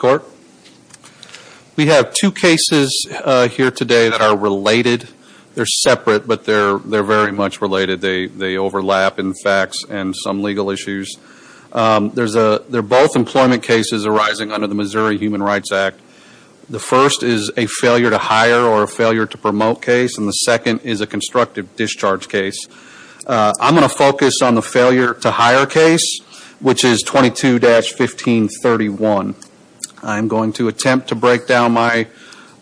Court. We have two cases here today that are related. They're separate but they're very much related. They overlap in facts and some legal issues. They're both employment cases arising under the Missouri Human Rights Act. The first is a failure to hire or a failure to promote case and the second is a constructive discharge case. I'm going to focus on the 2-1531. I'm going to attempt to break down my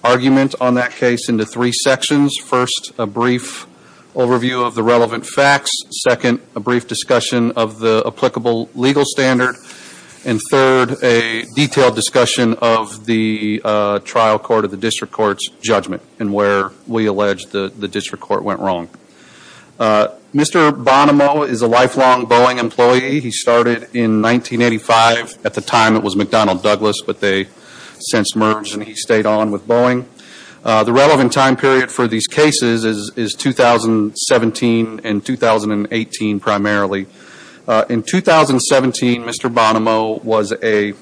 argument on that case into three sections. First a brief overview of the relevant facts. Second, a brief discussion of the applicable legal standard. And third, a detailed discussion of the trial court of the district court's judgment and where we allege the district court went wrong. Mr. Bonomo is a lifelong Boeing employee. He started in 1985. At the time it was McDonnell Douglas but they since merged and he stayed on with Boeing. The relevant time period for these cases is 2017 and 2018 primarily. In 2017, Mr. Bonomo was a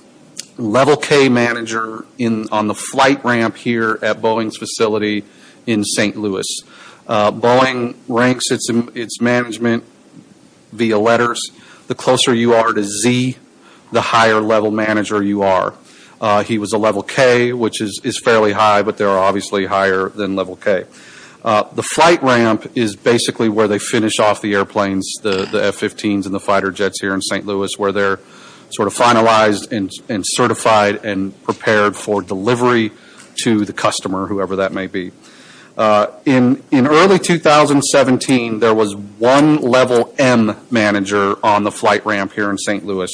level K manager on the flight ramp here at Boeing's facility in St. Louis. Boeing ranks its management via letters. The closer you are to Z the higher level manager you are. He was a level K which is fairly high but they are obviously higher than level K. The flight ramp is basically where they finish off the airplanes, the F-15s and the fighter jets here in St. Louis where they're sort of finalized and certified and whatever that may be. In early 2017 there was one level M manager on the flight ramp here in St. Louis.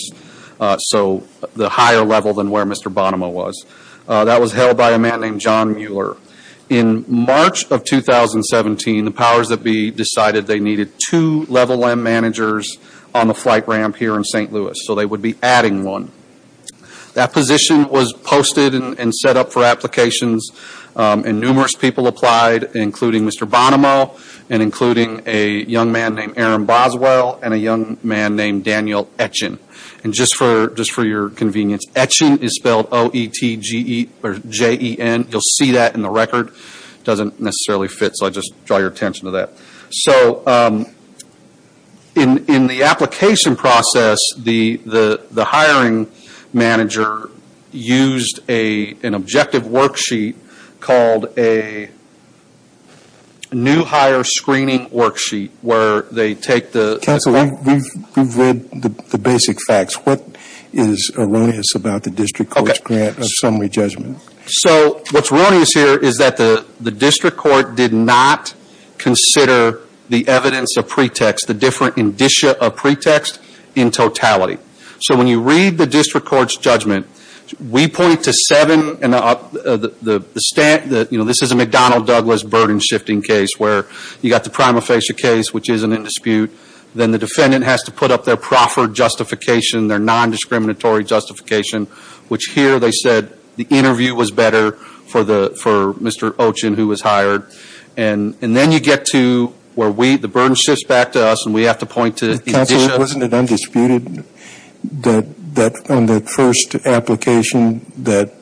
So the higher level than where Mr. Bonomo was. That was held by a man named John Mueller. In March of 2017 the powers that be decided they needed two level M managers on the flight ramp here in St. Louis. So they would be adding one. That position was posted and set up for applications. Numerous people applied including Mr. Bonomo and including a young man named Aaron Boswell and a young man named Daniel Etchen. Just for your convenience Etchen is spelled O-E-T-G-E or J-E-N. You'll see that in the record. It doesn't necessarily fit so I just draw your attention to that. In the application process the hiring manager used an objective worksheet called a new hire screening worksheet where they take the- Counsel, we've read the basic facts. What is erroneous about the district court's grant of summary judgment? So what's erroneous here is that the district court did not consider the evidence of pretext, the different indicia of pretext in totality. So when you read the district court's judgment we point to seven. This is a McDonnell Douglas burden shifting case where you got the prima facie case which isn't in dispute. Then the defendant has to put up their proffered justification, their non-discriminatory justification which here they said the interview was better for Mr. Etchen who was hired. And then you get to where the burden shifts back to us and we have to point to the indicia. Counsel, wasn't it undisputed that on the first application that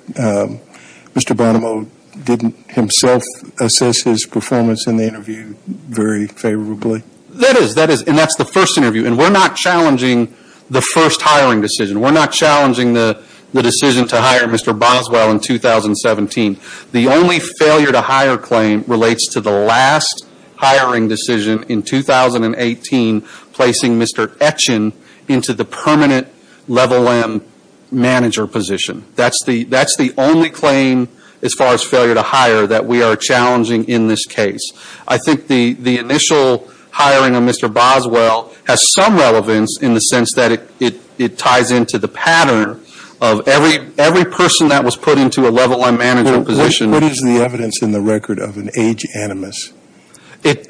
Mr. Bonomo didn't himself assess his performance in the interview very favorably? That is. And that's the first interview. And we're not challenging the first hiring decision. We're not challenging the decision to hire Mr. Boswell in 2017. The only failure to hire claim relates to the last hiring decision in 2018 placing Mr. Etchen into the permanent level M manager position. That's the only claim as far as failure to hire that we are challenging in this case. I think the initial hiring of Mr. Boswell has some relevance in the sense that it ties into the pattern of every person that was put into a level M manager position. What is the evidence in the record of an age animus?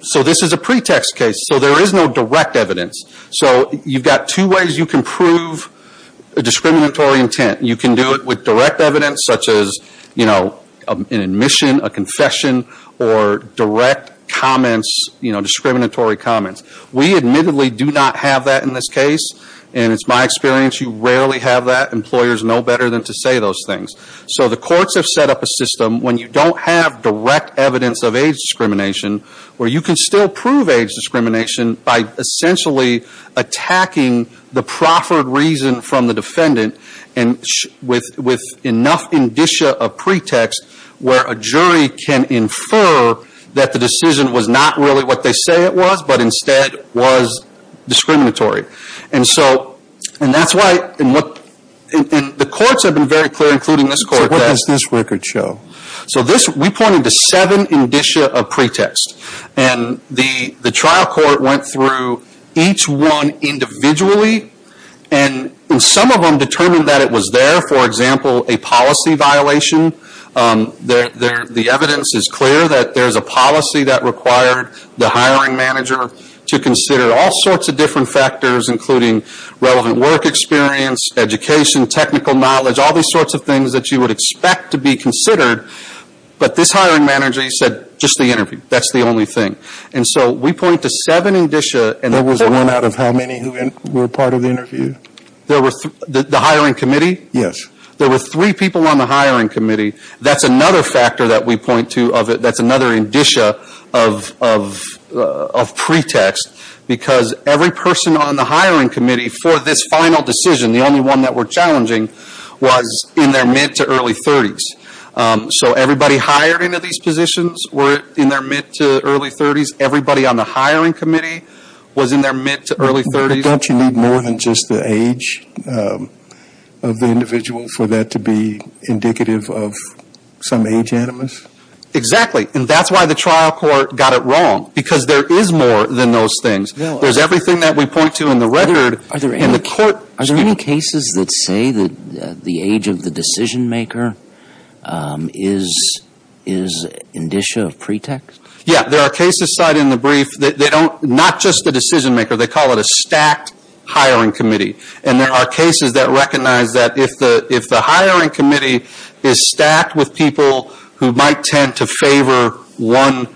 So this is a pretext case. So there is no direct evidence. So you've got two ways you can prove a discriminatory intent. You can do it with direct evidence such as an admission, a confession or direct comments, discriminatory comments. We admittedly do not have that in this case. And it's my experience you rarely have that. Employers know better than to say those things. So the courts have set up a system when you don't have direct evidence of age discrimination where you can still prove age discrimination by essentially attacking the proffered reason from the defendant with enough indicia of pretext where a jury can infer that the decision was not really what they say it was but instead was discriminatory. And so that's why the courts have been very clear, including this court, that we pointed to seven indicia of pretext. And the trial court went through each one individually and some of them determined that it was there, for example, a policy violation. The evidence is clear that there's a policy that required the hiring manager to consider all sorts of different factors including relevant work experience, education, technical knowledge, all these sorts of things that you would expect to be considered. But this hiring manager said just the interview. That's the only thing. And so we point to seven indicia and there were three people on the hiring committee. That's another factor that we point to. That's another indicia of pretext because every person on the hiring committee for this final decision, the only one that we're challenging, was in their mid to early thirties. So everybody hired into these positions were in their mid to early thirties. Everybody on the hiring committee was in their mid to early thirties. Don't you need more than just the age of the individual for that to be indicative of some age animus? Exactly. And that's why the trial court got it wrong. Because there is more than those things. There's everything that we point to in the record and the court... Are there any cases that say that the age of the decision maker is indicia of pretext? Yeah. There are cases cited in the brief that they don't, not just the decision maker, they call it a stacked hiring committee. And there are cases that recognize that if the hiring committee is stacked with people who might tend to favor one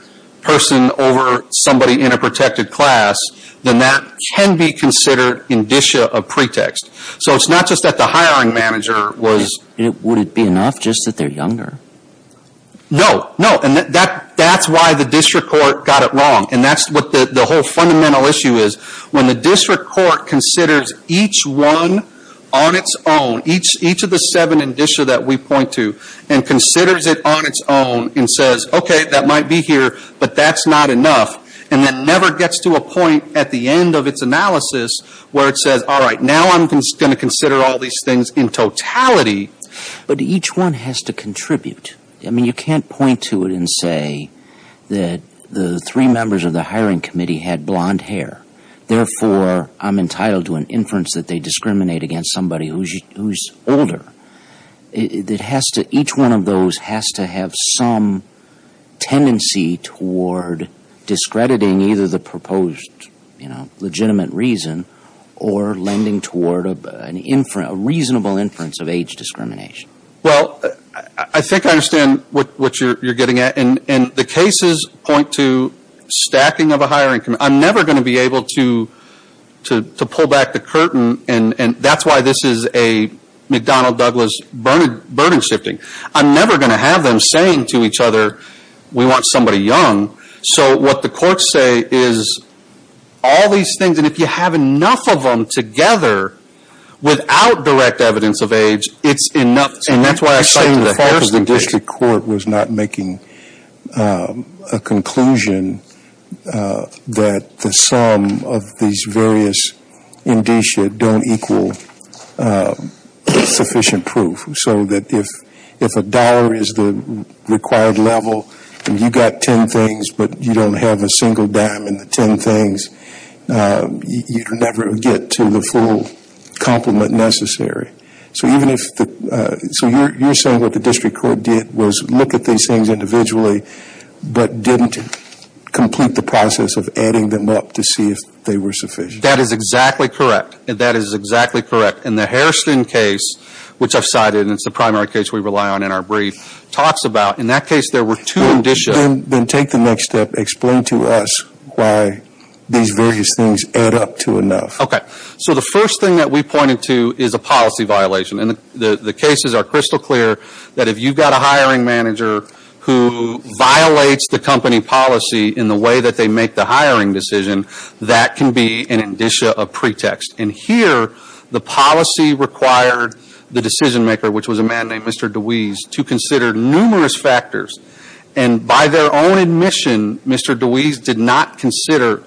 person over somebody in a protected class, then that can be considered indicia of pretext. So it's not just that the hiring manager was... Would it be enough just that they're younger? No. No. And that's why the district court got it wrong. And that's what the whole fundamental issue is. When the district court considers each one on its own, each of the seven indicia that we point to and considers it on its own and says, okay, that might be here, but that's not enough. And then never gets to a point at the end of its analysis where it says, all right, now I'm going to consider all these things in totality. But each one has to contribute. I mean, you can't point to it and say that the three members of the hiring committee had blond hair. Therefore, I'm entitled to an inference that they discriminate against somebody who's older. It has to, each one of those has to have some tendency toward discrediting either the proposed legitimate reason or lending toward a reasonable inference of age discrimination. Well, I think I understand what you're getting at. And the cases point to stacking of a hiring committee. I'm never going to be able to pull back the curtain. And that's why this is a McDonnell Douglas burden shifting. I'm never going to have them saying to each other, we want somebody young. So what the courts say is all these things, and if you have enough of them together, without direct evidence of age, it's enough. And that's why I cite to the Harrison case. You're saying the fault of the district court was not making a conclusion that the sum of these various indicia don't equal sufficient proof. So that if a dollar is the required level and you got ten things, but you don't have a single dime in the ten things, you never get to the full complement necessary. So you're saying what the district court did was look at these things individually, but didn't complete the process of adding them up to see if they were sufficient. That is exactly correct. That is exactly correct. And the Harrison case, which I've cited, and it's the primary case we rely on in our brief, talks about in that case there were two indicia Then take the next step. Explain to us why these various things add up to enough. So the first thing that we pointed to is a policy violation. And the cases are crystal clear that if you've got a hiring manager who violates the company policy in the way that they make the hiring decision, that can be an indicia of pretext. And here, the policy required the decision maker, which was a man named Mr. DeWeese, to consider numerous factors. And by their own admission, Mr. DeWeese did not consider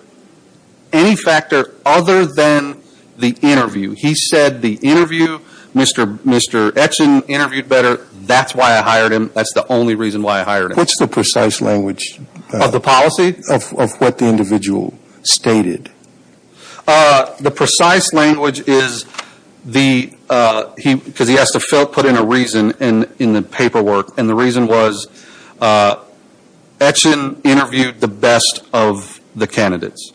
any factor other than the interview. He said the interview, Mr. Etchen interviewed better. That's why I hired him. That's the only reason why I hired him. What's the precise language of the policy of what the individual stated? The precise language is the, because he has to put in a reason in the paperwork. And the reason is Etchen interviewed the best of the candidates.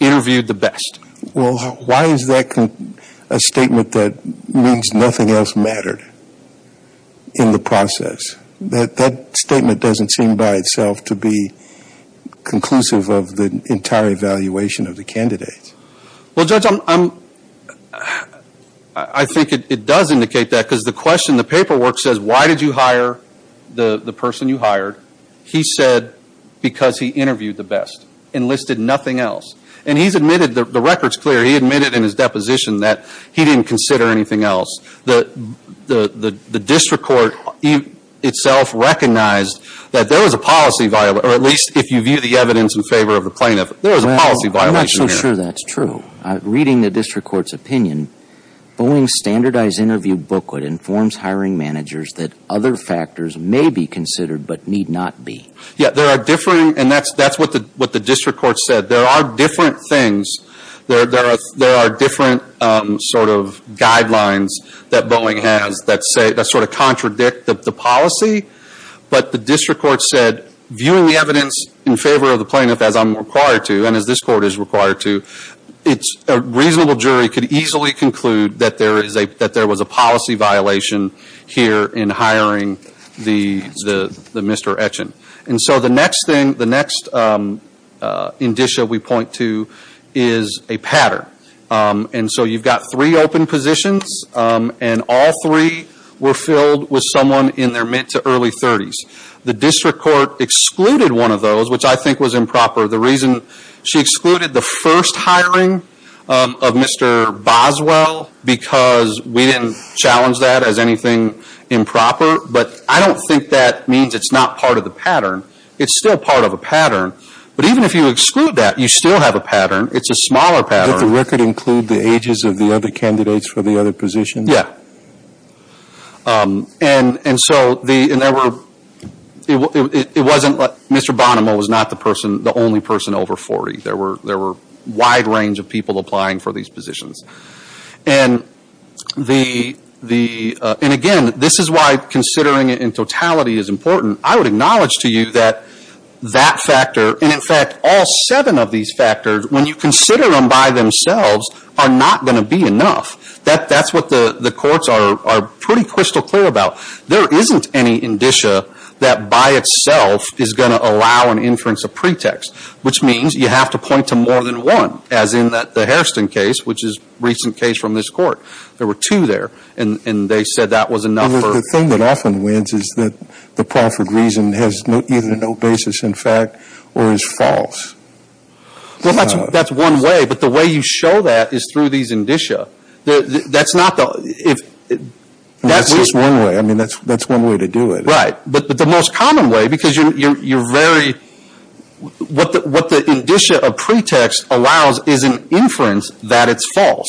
Interviewed the best. Well, why is that a statement that means nothing else mattered in the process? That statement doesn't seem by itself to be conclusive of the entire evaluation of the candidates. Well Judge, I think it does indicate that because the question in the paperwork says why did you hire the person you hired, he said because he interviewed the best and listed nothing else. And he's admitted, the record's clear, he admitted in his deposition that he didn't consider anything else. The district court itself recognized that there was a policy violation, or at least if you view the evidence in favor of the plaintiff, there was a policy violation there. Well, I'm not so sure that's true. Reading the district court's opinion, Boeing's standardized interview booklet informs hiring managers that other factors may be considered but need not be. Yeah, there are differing, and that's what the district court said. There are different things. There are different sort of guidelines that Boeing has that sort of contradict the policy. But the district court said, viewing the evidence in favor of the plaintiff as I'm required to, and as this court is required to, a reasonable jury could easily conclude that there was a policy violation here in hiring the Mr. Etchen. And so the next thing, the next indicia we point to is a pattern. And so you've got three open positions, and all three were filled with someone in their mid to early thirties. The district court excluded one of those, which I think was improper. The reason she we didn't challenge that as anything improper, but I don't think that means it's not part of the pattern. It's still part of a pattern. But even if you exclude that, you still have a pattern. It's a smaller pattern. Did the record include the ages of the other candidates for the other positions? Yeah. And so there were, it wasn't, Mr. Bonomo was not the only person over 40. There were other people. And again, this is why considering it in totality is important. I would acknowledge to you that that factor, and in fact, all seven of these factors, when you consider them by themselves, are not going to be enough. That's what the courts are pretty crystal clear about. There isn't any indicia that by itself is going to allow an inference of pretext, which means you have to point to more than one, as in the Hairston case, which is a recent case from this court. There were two there, and they said that was enough for The thing that often wins is that the proffered reason has either no basis in fact or is false. That's one way, but the way you show that is through these indicia. That's not the, if That's just one way. I mean, that's one way to do it. Right. But the most common way, because you're very, what the indicia of pretext allows is an inference that it's false.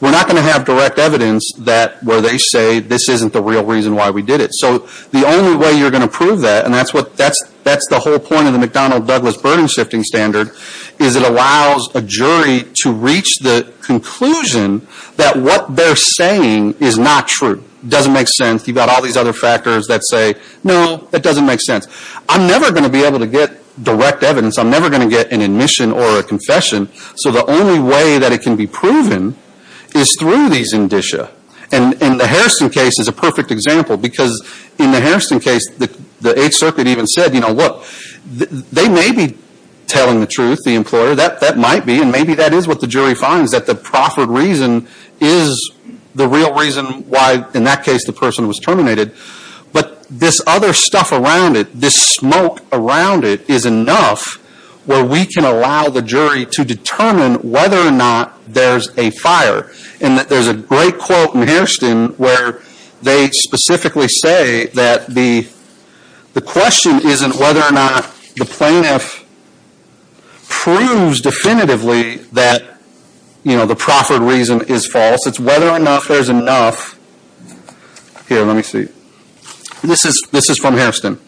We're not going to have direct evidence where they say this isn't the real reason why we did it. So the only way you're going to prove that, and that's the whole point of the McDonnell Douglas burden shifting standard, is it allows a jury to reach the conclusion that what they're saying is not true. It doesn't make sense. You've got all these other factors that say, no, it doesn't make sense. I'm never going to be able to get direct evidence. I'm never going to get an admission or a confession. So the only way that it can be proven is through these indicia. And the Harrison case is a perfect example, because in the Harrison case, the Eighth Circuit even said, you know, look, they may be telling the truth, the employer. That might be, and maybe that is what the jury finds, that the proffered reason is the real reason why, in that case, the person was terminated. But this other stuff around it, this smoke around it is enough where we can allow the jury to determine whether or not there's a fire. And there's a great quote in Hairston where they specifically say that the question isn't whether or not the plaintiff proves definitively that, you know, the proffered reason is false. It's whether or not there's enough. Here, let me see. This is from Hairston.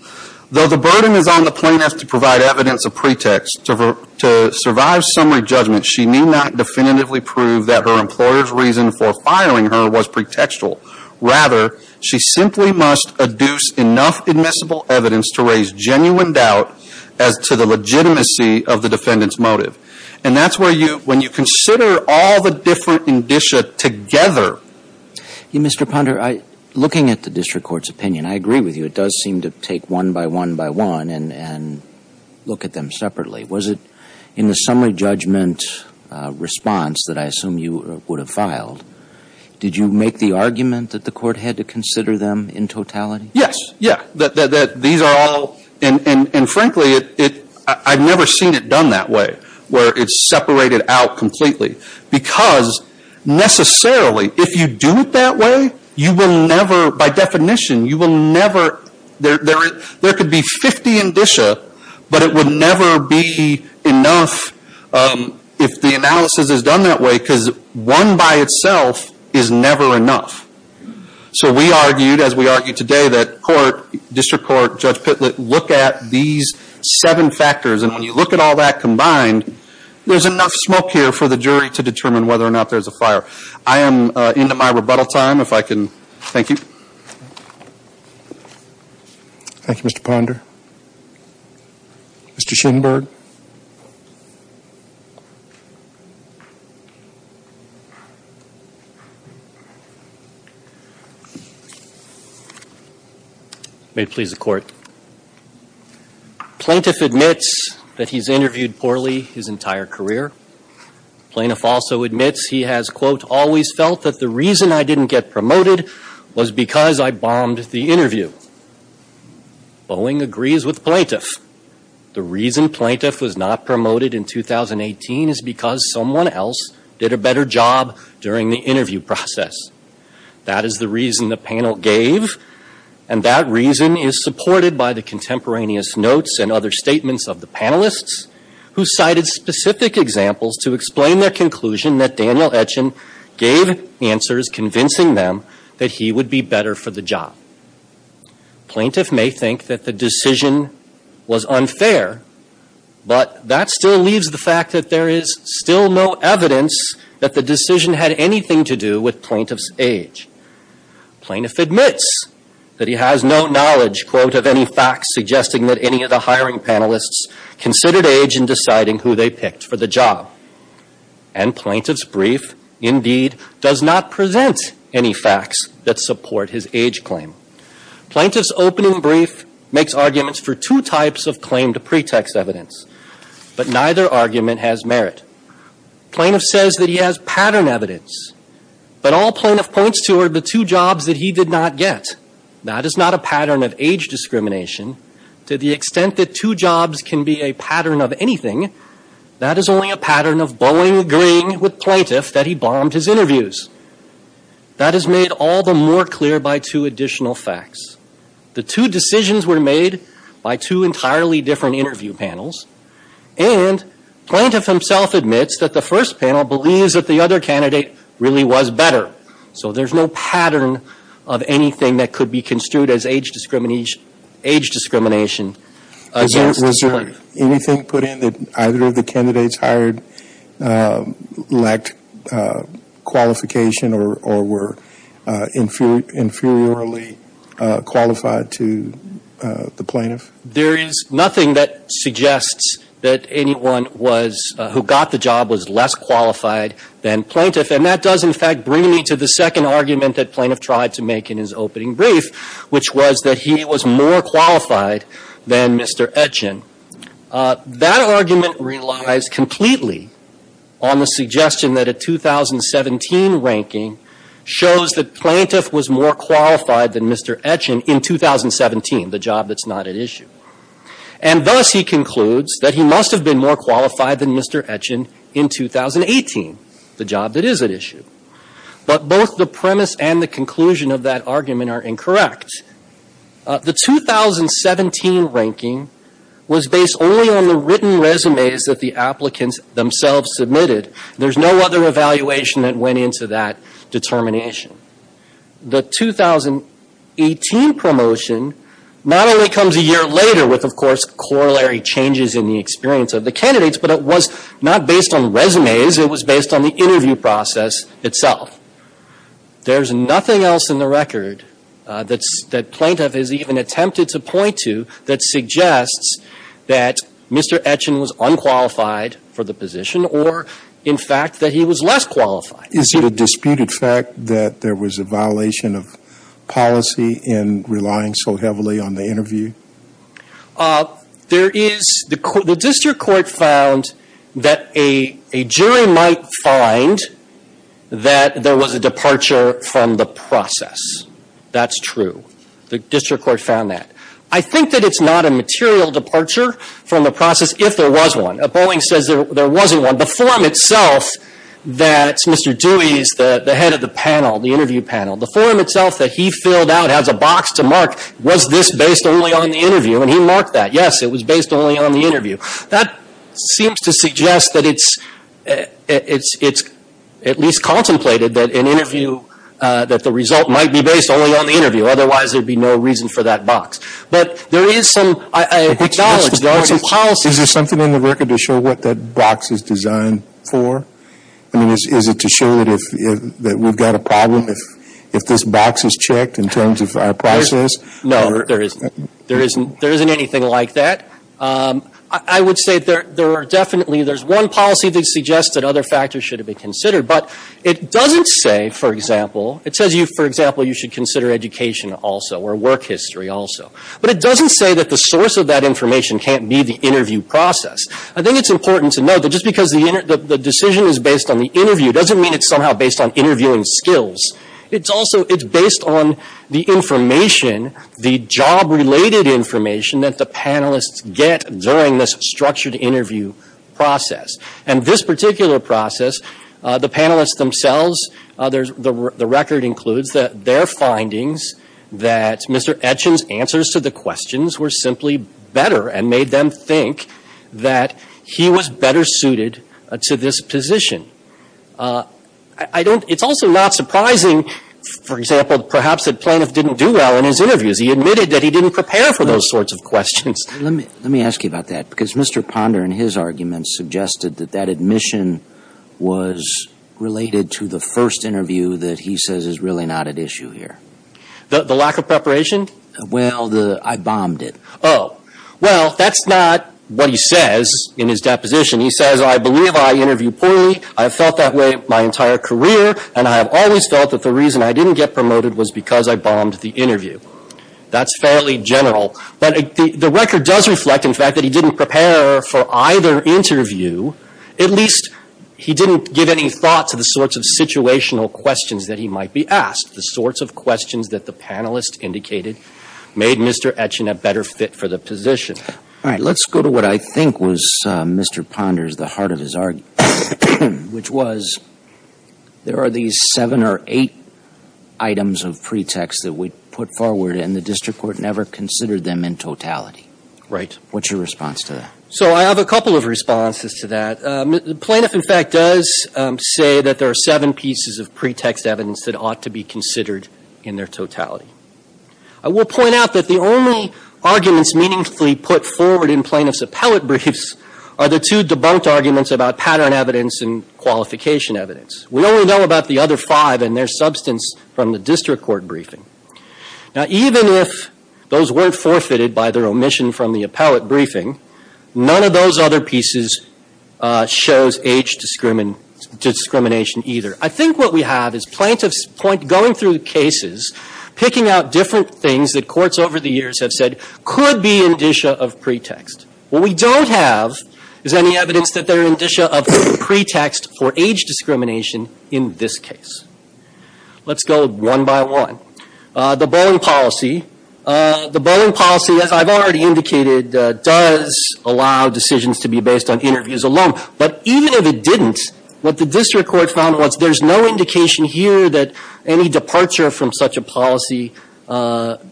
Though the burden is on the plaintiff to provide evidence of pretext, to survive summary judgment, she need not definitively prove that her employer's reason for firing her was pretextual. Rather, she simply must adduce enough admissible evidence to raise genuine doubt as to the legitimacy of the defendant's motive. And that's where you, when you consider all the different indicia together. Mr. Ponder, looking at the district court's opinion, I agree with you. It does seem to take one by one by one and look at them separately. Was it in the summary judgment response that I assume you would have filed, did you make the argument that the court had to consider them in totality? Yes. Yeah. These are all, and frankly, I've never seen it done that way, where it's separated out completely. Because necessarily, if you do it that way, you will never, by definition, you will never, there could be 50 indicia, but it would never be enough if the analysis is done that way, because one by itself is never enough. So we argued, as we argue today, that court, district court, Judge Pitlett, look at these seven factors. And when you look at all that combined, there's enough smoke here for the jury to determine whether or not there's a fire. I am into my rebuttal time, if I can. Thank you. Thank you, Mr. Ponder. Mr. Schoenberg. May it please the court. Plaintiff admits that he's interviewed poorly his entire career. Plaintiff also admits he has, quote, always felt that the reason I didn't get promoted was because I bombed the interview. Boeing agrees with plaintiff. The reason plaintiff was not promoted in 2018 is because someone else did a better job during the interview process. That is the reason the panel gave, and that reason is supported by the contemporaneous notes and other statements of the panelists, who cited specific examples to explain their conclusion that Daniel Etchen gave answers convincing them that he would be better for the job. Plaintiff may think that the decision was unfair, but that still leaves the fact that there is still no evidence that the decision had anything to do with plaintiff's age. Plaintiff admits that he has no knowledge, quote, of any facts suggesting that any of the hiring panelists considered age in deciding who they picked for the job. And plaintiff's brief, indeed, does not present any facts that support his age claim. Plaintiff's opening brief makes arguments for two types of claim to pretext evidence, but neither argument has merit. Plaintiff says that he has pattern evidence, but all plaintiff points to are the two jobs that he did not get. That is not a pattern of age discrimination. To the extent that two jobs can be a pattern of anything, that is only a pattern of bowing green with plaintiff that he bombed his interviews. That is made all the more clear by two additional facts. The two decisions were made by two entirely different interview panels, and plaintiff himself admits that the first panel believes that the other candidate really was better. So there is no pattern of anything that could be construed as age discrimination against the plaintiff. Was there anything put in that either of the candidates hired lacked qualification or were inferiorly qualified to the plaintiff? There is nothing that suggests that anyone who got the job was less qualified than plaintiff, and that does, in fact, bring me to the second argument that plaintiff tried to make in his opening brief, which was that he was more qualified than Mr. Etchin. That argument relies completely on the suggestion that a 2017 ranking shows that plaintiff was more qualified than Mr. Etchin in 2017, the job that's not at issue. And thus he concludes that he must have been more qualified than Mr. Etchin in 2018, the job that is at issue. But both the premise and the conclusion of that argument are incorrect. The 2017 ranking was based only on the written resumes that the applicants themselves submitted. There's no other evaluation that went into that determination. The 2018 promotion not only comes a year later with, of course, corollary changes in the experience of the candidates, but it was not based on resumes. It was based on the interview process itself. There's nothing else in the record that plaintiff has even attempted to point to that suggests that Mr. Etchin was unqualified for the position or, in fact, that he was less qualified. Is it a disputed fact that there was a violation of policy in relying so heavily on interview? The district court found that a jury might find that there was a departure from the process. That's true. The district court found that. I think that it's not a material departure from the process if there was one. Boeing says there wasn't one. The forum itself that Mr. Dewey is the head of the panel, the interview panel, the forum itself that he filled out has a box to mark was this based only on the interview? And he marked that. Yes, it was based only on the interview. That seems to suggest that it's at least contemplated that an interview, that the result might be based only on the interview. Otherwise, there'd be no reason for that box. But there is some, I acknowledge there are some policies. Is there something in the record to show what that box is designed for? I mean, is it to show that we've got a problem if this box is checked in terms of process? No, there isn't anything like that. I would say there are definitely, there's one policy that suggests that other factors should be considered. But it doesn't say, for example, it says you, for example, you should consider education also or work history also. But it doesn't say that the source of that information can't be the interview process. I think it's important to note that just because the decision is based on the interview doesn't mean it's based on interviewing skills. It's also, it's based on the information, the job-related information that the panelists get during this structured interview process. And this particular process, the panelists themselves, the record includes that their findings that Mr. Etchins' answers to the questions were simply better and made them think that he was better suited to this position. I don't, it's also not surprising, for example, perhaps that Planoff didn't do well in his interviews. He admitted that he didn't prepare for those sorts of questions. Let me, let me ask you about that because Mr. Ponder in his argument suggested that that admission was related to the first interview that he says is really not at issue here. The lack of preparation? Well, the, I bombed it. Oh. Well, that's not what he says in his deposition. He says, I believe I interviewed poorly. I have felt that way my entire career and I have always felt that the reason I didn't get promoted was because I bombed the interview. That's fairly general. But the record does reflect, in fact, that he didn't prepare for either interview. At least he didn't give any thought to the sorts of situational questions that he might be asked, the sorts of questions that the panelists indicated made Mr. Etchin a better fit for the position. All right. Let's go to what I think was Mr. Ponder's, the heart of his argument, which was there are these seven or eight items of pretext that we put forward and the district court never considered them in totality. Right. What's your response to that? So I have a couple of responses to that. Planoff, in fact, does say that there are pieces of pretext evidence that ought to be considered in their totality. I will point out that the only arguments meaningfully put forward in Planoff's appellate briefs are the two debunked arguments about pattern evidence and qualification evidence. We only know about the other five and their substance from the district court briefing. Now, even if those weren't forfeited by their omission from the appellate briefing, none of those other pieces shows age discrimination either. I think what we have is plaintiffs going through cases, picking out different things that courts over the years have said could be indicia of pretext. What we don't have is any evidence that they're indicia of pretext for age discrimination in this case. Let's go one by one. The bowling policy. The bowling policy, as I've already indicated, does allow decisions to be based on interviews alone. But even if it didn't, what the district court found was there's no indication here that any departure from such a policy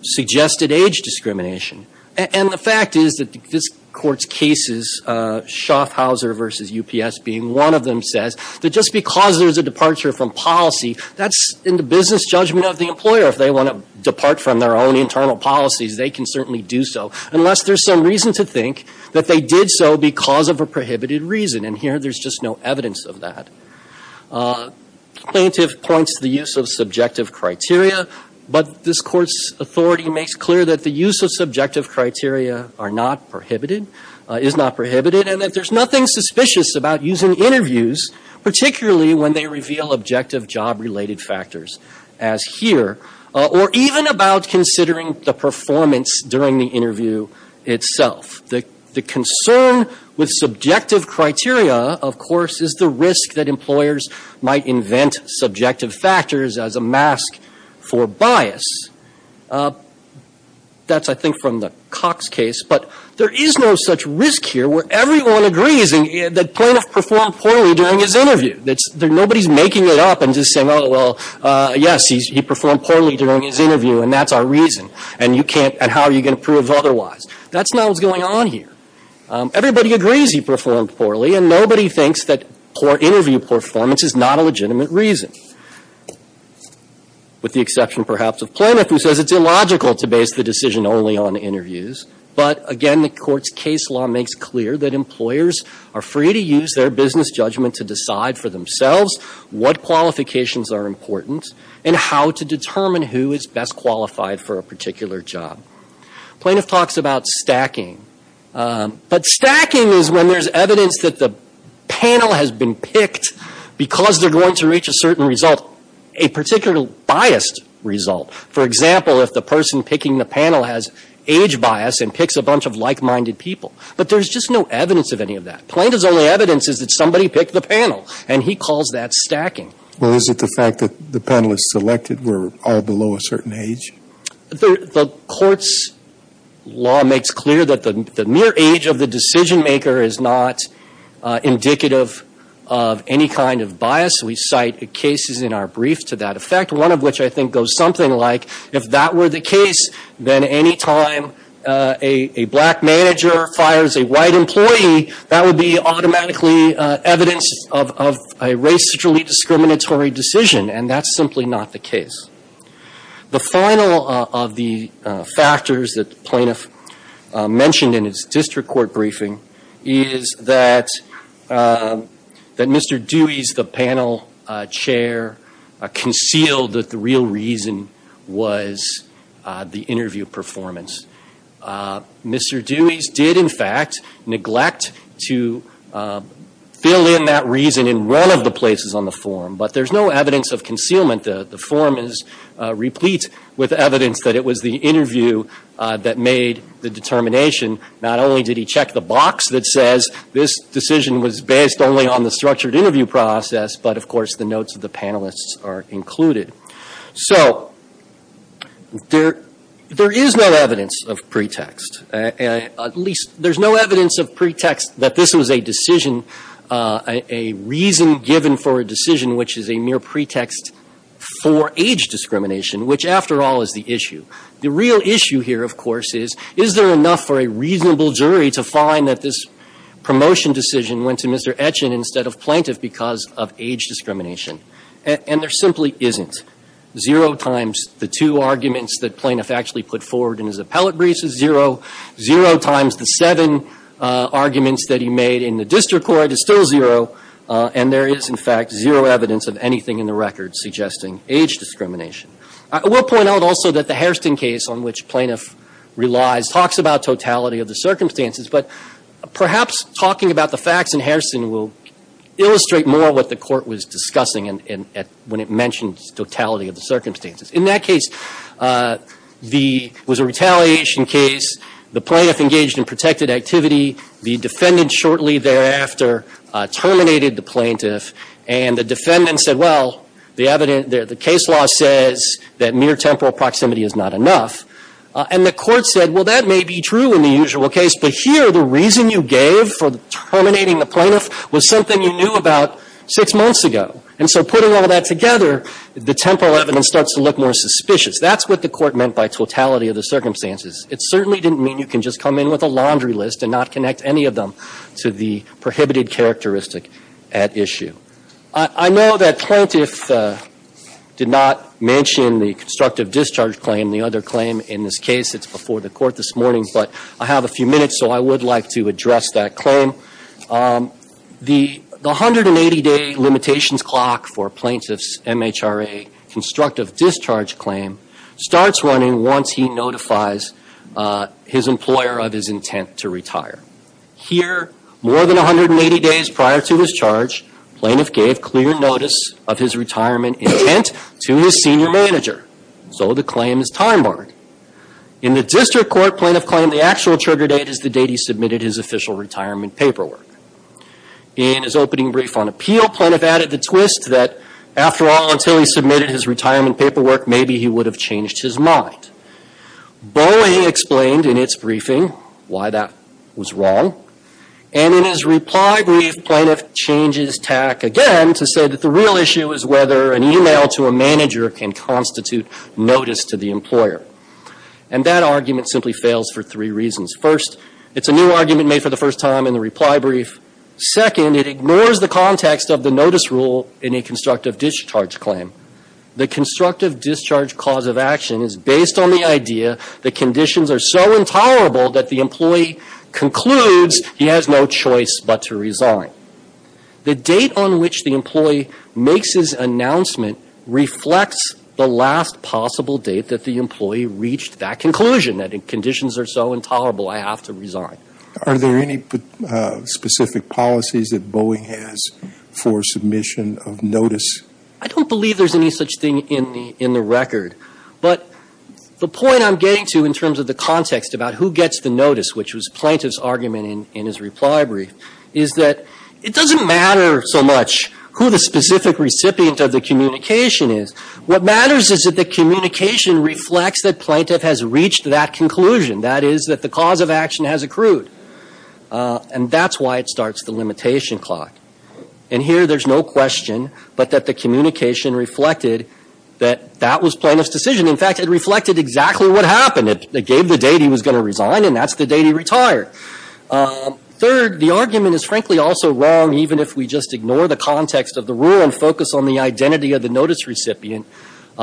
suggested age discrimination. And the fact is that this Court's cases, Schaffhauser v. UPS being one of them, says that just because there's a departure from policy, that's in the business judgment of the employer. If they want to depart from their own internal policies, they can certainly do so unless there's some reason to think that they did so because of a prohibited reason. And here there's just no evidence of that. Plaintiff points to the use of subjective criteria, but this Court's authority makes clear that the use of subjective criteria are not prohibited, is not prohibited, and that there's nothing suspicious about using interviews, particularly when they reveal objective job-related factors, as here, or even about considering the performance during the interview itself. The concern with subjective criteria, of course, is the risk that employers might invent subjective factors as a mask for bias. That's, I think, from the Cox case, but there is no such risk here where everyone agrees that Plaintiff performed poorly during his interview. Nobody's making it up and just saying, oh, well, yes, he performed poorly during his interview, and that's our reason, and you can't, and how are you going to prove otherwise? That's not what's going on here. Everybody agrees he performed poorly, and nobody thinks that interview performance is not a legitimate reason, with the exception, perhaps, of Plaintiff, who says it's illogical to base the decision only on interviews. But again, the Court's case law makes clear that employers are free to use their business judgment to decide for themselves what qualifications are important and how to determine who is best qualified for a particular job. Plaintiff talks about stacking, but stacking is when there's evidence that the panel has been picked because they're going to reach a certain result, a particular biased result. For example, if the person picking the panel has age bias and picks a bunch of like-minded people, but there's just no evidence of any of that. Plaintiff's only evidence is that somebody picked the panel, and he calls that stacking. Well, is it the fact that the panelists selected were all below a certain age? The Court's law makes clear that the mere age of the decision-maker is not indicative of any kind of bias. We cite cases in our brief to that effect, one of which I think goes something like, if that were the case, then any time a black manager fires a white employee, that would be automatically evidence of a racially discriminatory decision, and that's simply not the case. The final of the factors that the plaintiff mentioned in his district court briefing is that Mr. Dewey's, the panel chair, concealed that the real reason was the interview performance. Mr. Dewey's did, in fact, neglect to fill in that reason in one of the places on the form, but there's no evidence of concealment. The form is replete with evidence that it was the interview that made the determination. Not only did he check the box that says this decision was based only on the structured interview process, but, of course, the notes of the panelists are included. So there is no evidence of pretext. At least, there's no evidence of pretext that this was a decision, a reason given for a decision which is a mere pretext for age discrimination, which, after all, is the issue. The real issue here, of course, is, is there enough for a reasonable jury to find that this promotion decision went to Mr. Etchin instead of plaintiff because of age discrimination? And there simply isn't. Zero times the two arguments that plaintiff actually put forward in his appellate briefs is zero. Zero times the seven arguments that he made in the district court is still zero, and there is, in fact, zero evidence of anything in the record suggesting age discrimination. I will point out also that the Hairston case, on which plaintiff relies, talks about totality of the circumstances, but perhaps talking about the facts in Hairston will illustrate more what the court was discussing when it mentioned totality of the circumstances. In that case, the, it was a retaliation case. The plaintiff engaged in protected activity. The defendant shortly thereafter terminated the plaintiff, and the evidence, the case law says that mere temporal proximity is not enough. And the court said, well, that may be true in the usual case, but here the reason you gave for terminating the plaintiff was something you knew about six months ago. And so putting all that together, the temporal evidence starts to look more suspicious. That's what the court meant by totality of the circumstances. It certainly didn't mean you can just come in with a laundry list and not connect any of them to the prohibited characteristic at issue. I know that plaintiff did not mention the constructive discharge claim, the other claim in this case. It's before the court this morning, but I have a few minutes, so I would like to address that claim. The 180-day limitations clock for plaintiff's MHRA constructive discharge claim starts running once he notifies his employer of his intent to retire. Here, more than 180 days prior to his charge, plaintiff gave clear notice of his retirement intent to his senior manager, so the claim is time-barred. In the district court, plaintiff claimed the actual trigger date is the date he submitted his official retirement paperwork. In his opening brief on appeal, plaintiff added the twist that, after all, until he submitted his retirement paperwork, maybe he would have changed his mind. Bowie explained in its briefing why that was wrong, and in his reply brief, plaintiff changes tack again to say that the real issue is whether an email to a manager can constitute notice to the employer. And that argument simply fails for three reasons. First, it's a new argument made for the first time in the reply brief. Second, it ignores the context of the notice rule in a constructive discharge claim. The constructive discharge cause of action is based on the idea that conditions are so intolerable that the employee concludes he has no choice but to resign. The date on which the employee makes his announcement reflects the last possible date that the employee reached that conclusion, that conditions are so intolerable, I have to resign. Are there any specific policies that Bowie has for submission of notice? I don't believe there's any such thing in the record. But the point I'm getting to in terms of the context about who gets the notice, which was plaintiff's argument in his reply brief, is that it doesn't matter so much who the specific recipient of the communication is. What matters is that the communication reflects that plaintiff has reached that conclusion, that is, that the cause of action has accrued. And that's why it starts the limitation clock. And here there's no question but that the communication reflected that that was plaintiff's decision. In fact, it reflected exactly what happened. It gave the date he was going to resign, and that's the date he retired. Third, the argument is frankly also wrong even if we just ignore the context of the rule and focus on the identity of the notice recipient.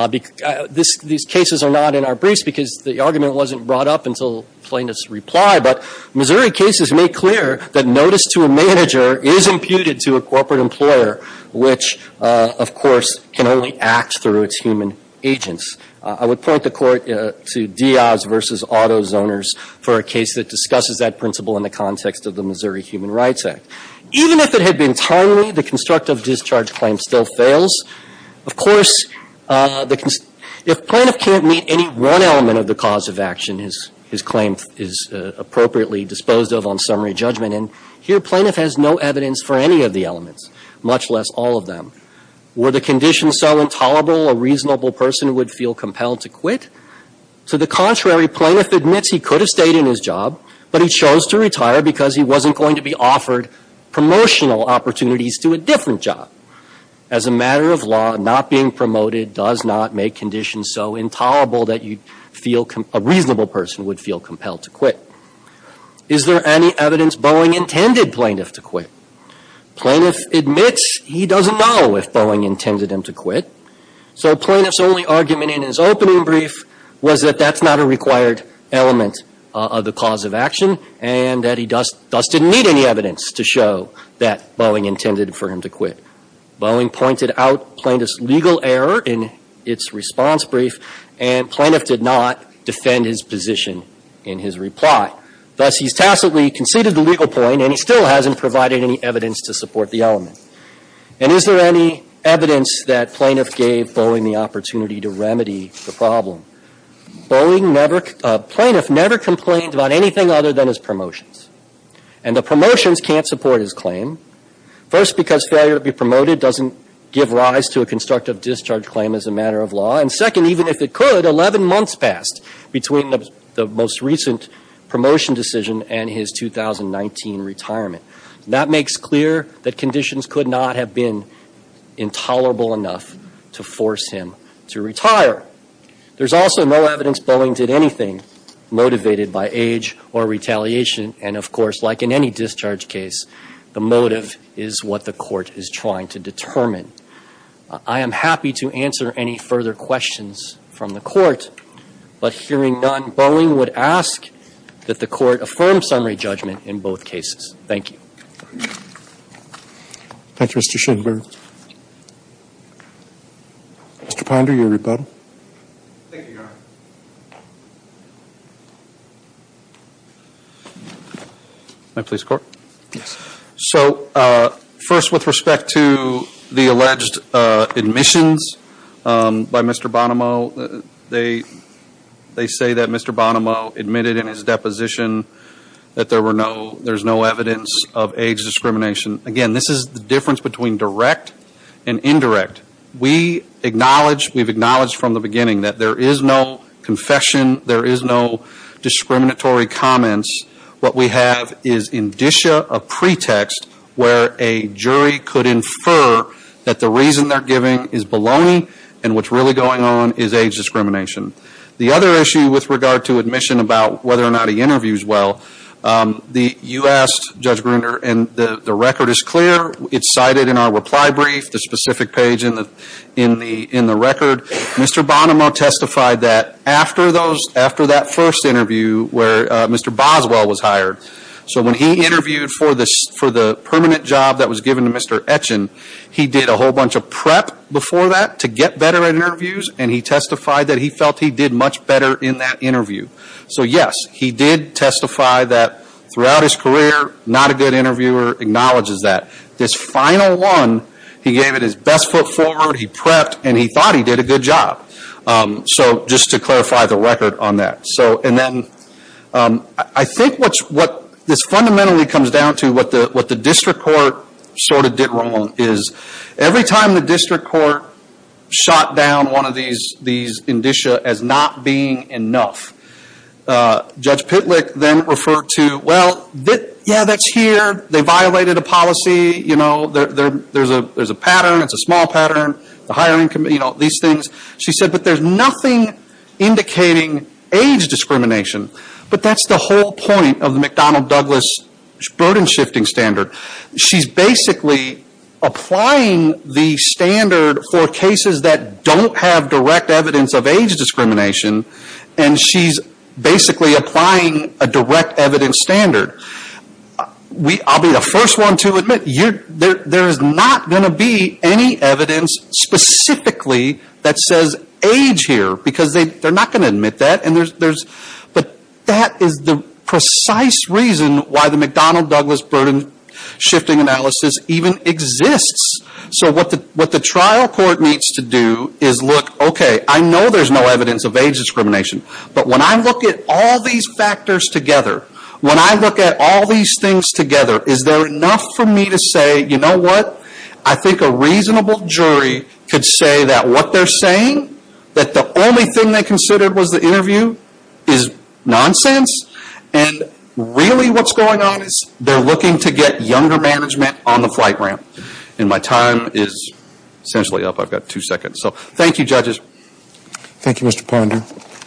These cases are not in our briefs because the argument wasn't brought up until plaintiff's reply. But Missouri cases make clear that notice to a manager is imputed to a corporate employer, which, of course, can only act through its human agents. I would point the court to Diaz v. Auto Zoners for a case that discusses that principle in the context of the Missouri Human Rights Act. Even if it had been timely, the constructive discharge claim still fails. Of course, if plaintiff can't meet any one element of the cause of action, his claim is appropriately disposed of on summary judgment. And here plaintiff has no evidence for any of the elements, much less all of them. Were the conditions so intolerable a reasonable person would feel compelled to quit? To the contrary, plaintiff admits he could have stayed in his job, but he chose to retire because he wasn't going to be offered promotional opportunities to a different job. As a matter of law, not being promoted does not make conditions so intolerable that you feel a reasonable person would feel compelled to quit. Is there any evidence Boeing intended plaintiff to quit? Plaintiff admits he doesn't know if Boeing intended him to quit. So plaintiff's only argument in his opening brief was that that's not a required element of the cause of action and that he just doesn't need any evidence to show that Boeing intended for him to quit. The plaintiff did not defend his position in his reply. Thus, he's tacitly conceded the legal point, and he still hasn't provided any evidence to support the element. And is there any evidence that plaintiff gave Boeing the opportunity to remedy the problem? Boeing never – plaintiff never complained about anything other than his promotions. And the promotions can't support his claim. First, because failure to be promoted doesn't give rise to a constructive discharge claim as a matter of law. And second, even if it could, 11 months passed between the most recent promotion decision and his 2019 retirement. That makes clear that conditions could not have been intolerable enough to force him to retire. There's also no evidence Boeing did anything motivated by age or retaliation. And, of course, like in any discharge case, the motive is what the court is trying to determine. I am happy to answer any further questions from the Court. But hearing none, Boeing would ask that the Court affirm summary judgment in both cases. Thank you. Thank you, Mr. Schenberg. Mr. Ponder, your rebuttal. Thank you, Your Honor. My police court? Yes. So, first, with respect to the alleged admissions by Mr. Bonomo, they say that Mr. Bonomo admitted in his deposition that there were no – there's no evidence of age discrimination. Again, this is a difference between direct and indirect. We acknowledge – we've acknowledged from the beginning that there is no confession, there is no discriminatory comments. What we have is indicia, a pretext, where a jury could infer that the reason they're giving is baloney and what's really going on is age discrimination. The other issue with regard to admission about whether or not he interviews well, you asked, Judge Gruner, and the record is clear. It's cited in our reply brief, the specific page in the record. Mr. Bonomo testified that after those – after that first interview where Mr. Boswell was hired. So when he interviewed for the permanent job that was given to Mr. Etchen, he did a whole bunch of prep before that to get better at this. He did testify that throughout his career, not a good interviewer acknowledges that. This final one, he gave it his best foot forward, he prepped, and he thought he did a good job. So, just to clarify the record on that. So, and then, I think what's – what this fundamentally comes down to, what the district court sort of did wrong is every time the district court shot down one of these indicia as not being enough. Judge Pitlick then referred to, well, yeah, that's here, they violated a policy, you know, there's a pattern, it's a small pattern, the hiring committee, you know, these things. She said, but there's nothing indicating age discrimination. But that's the whole point of the McDonnell Douglas burden shifting standard. She's basically applying the standard for cases that don't have direct evidence of age discrimination and she's basically applying a direct evidence standard. I'll be the first one to admit, there's not going to be any evidence specifically that says age here because they're not going to shifting analysis even exists. So, what the trial court needs to do is look, okay, I know there's no evidence of age discrimination, but when I look at all these factors together, when I look at all these things together, is there enough for me to say, you know what, I think a reasonable jury could say that what they're saying, that the only thing they considered was the interview is nonsense and really what's going on is they're looking to get younger management on the flight ramp. And my time is essentially up, I've got two seconds. So, thank you, judges. Thank you, Mr. Ponder.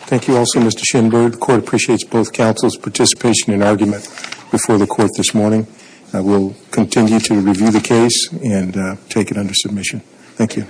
Thank you also, Mr. Schenberg. The court appreciates both counsel's participation and argument before the court this morning. We'll continue to review the case and take it under submission. Thank you.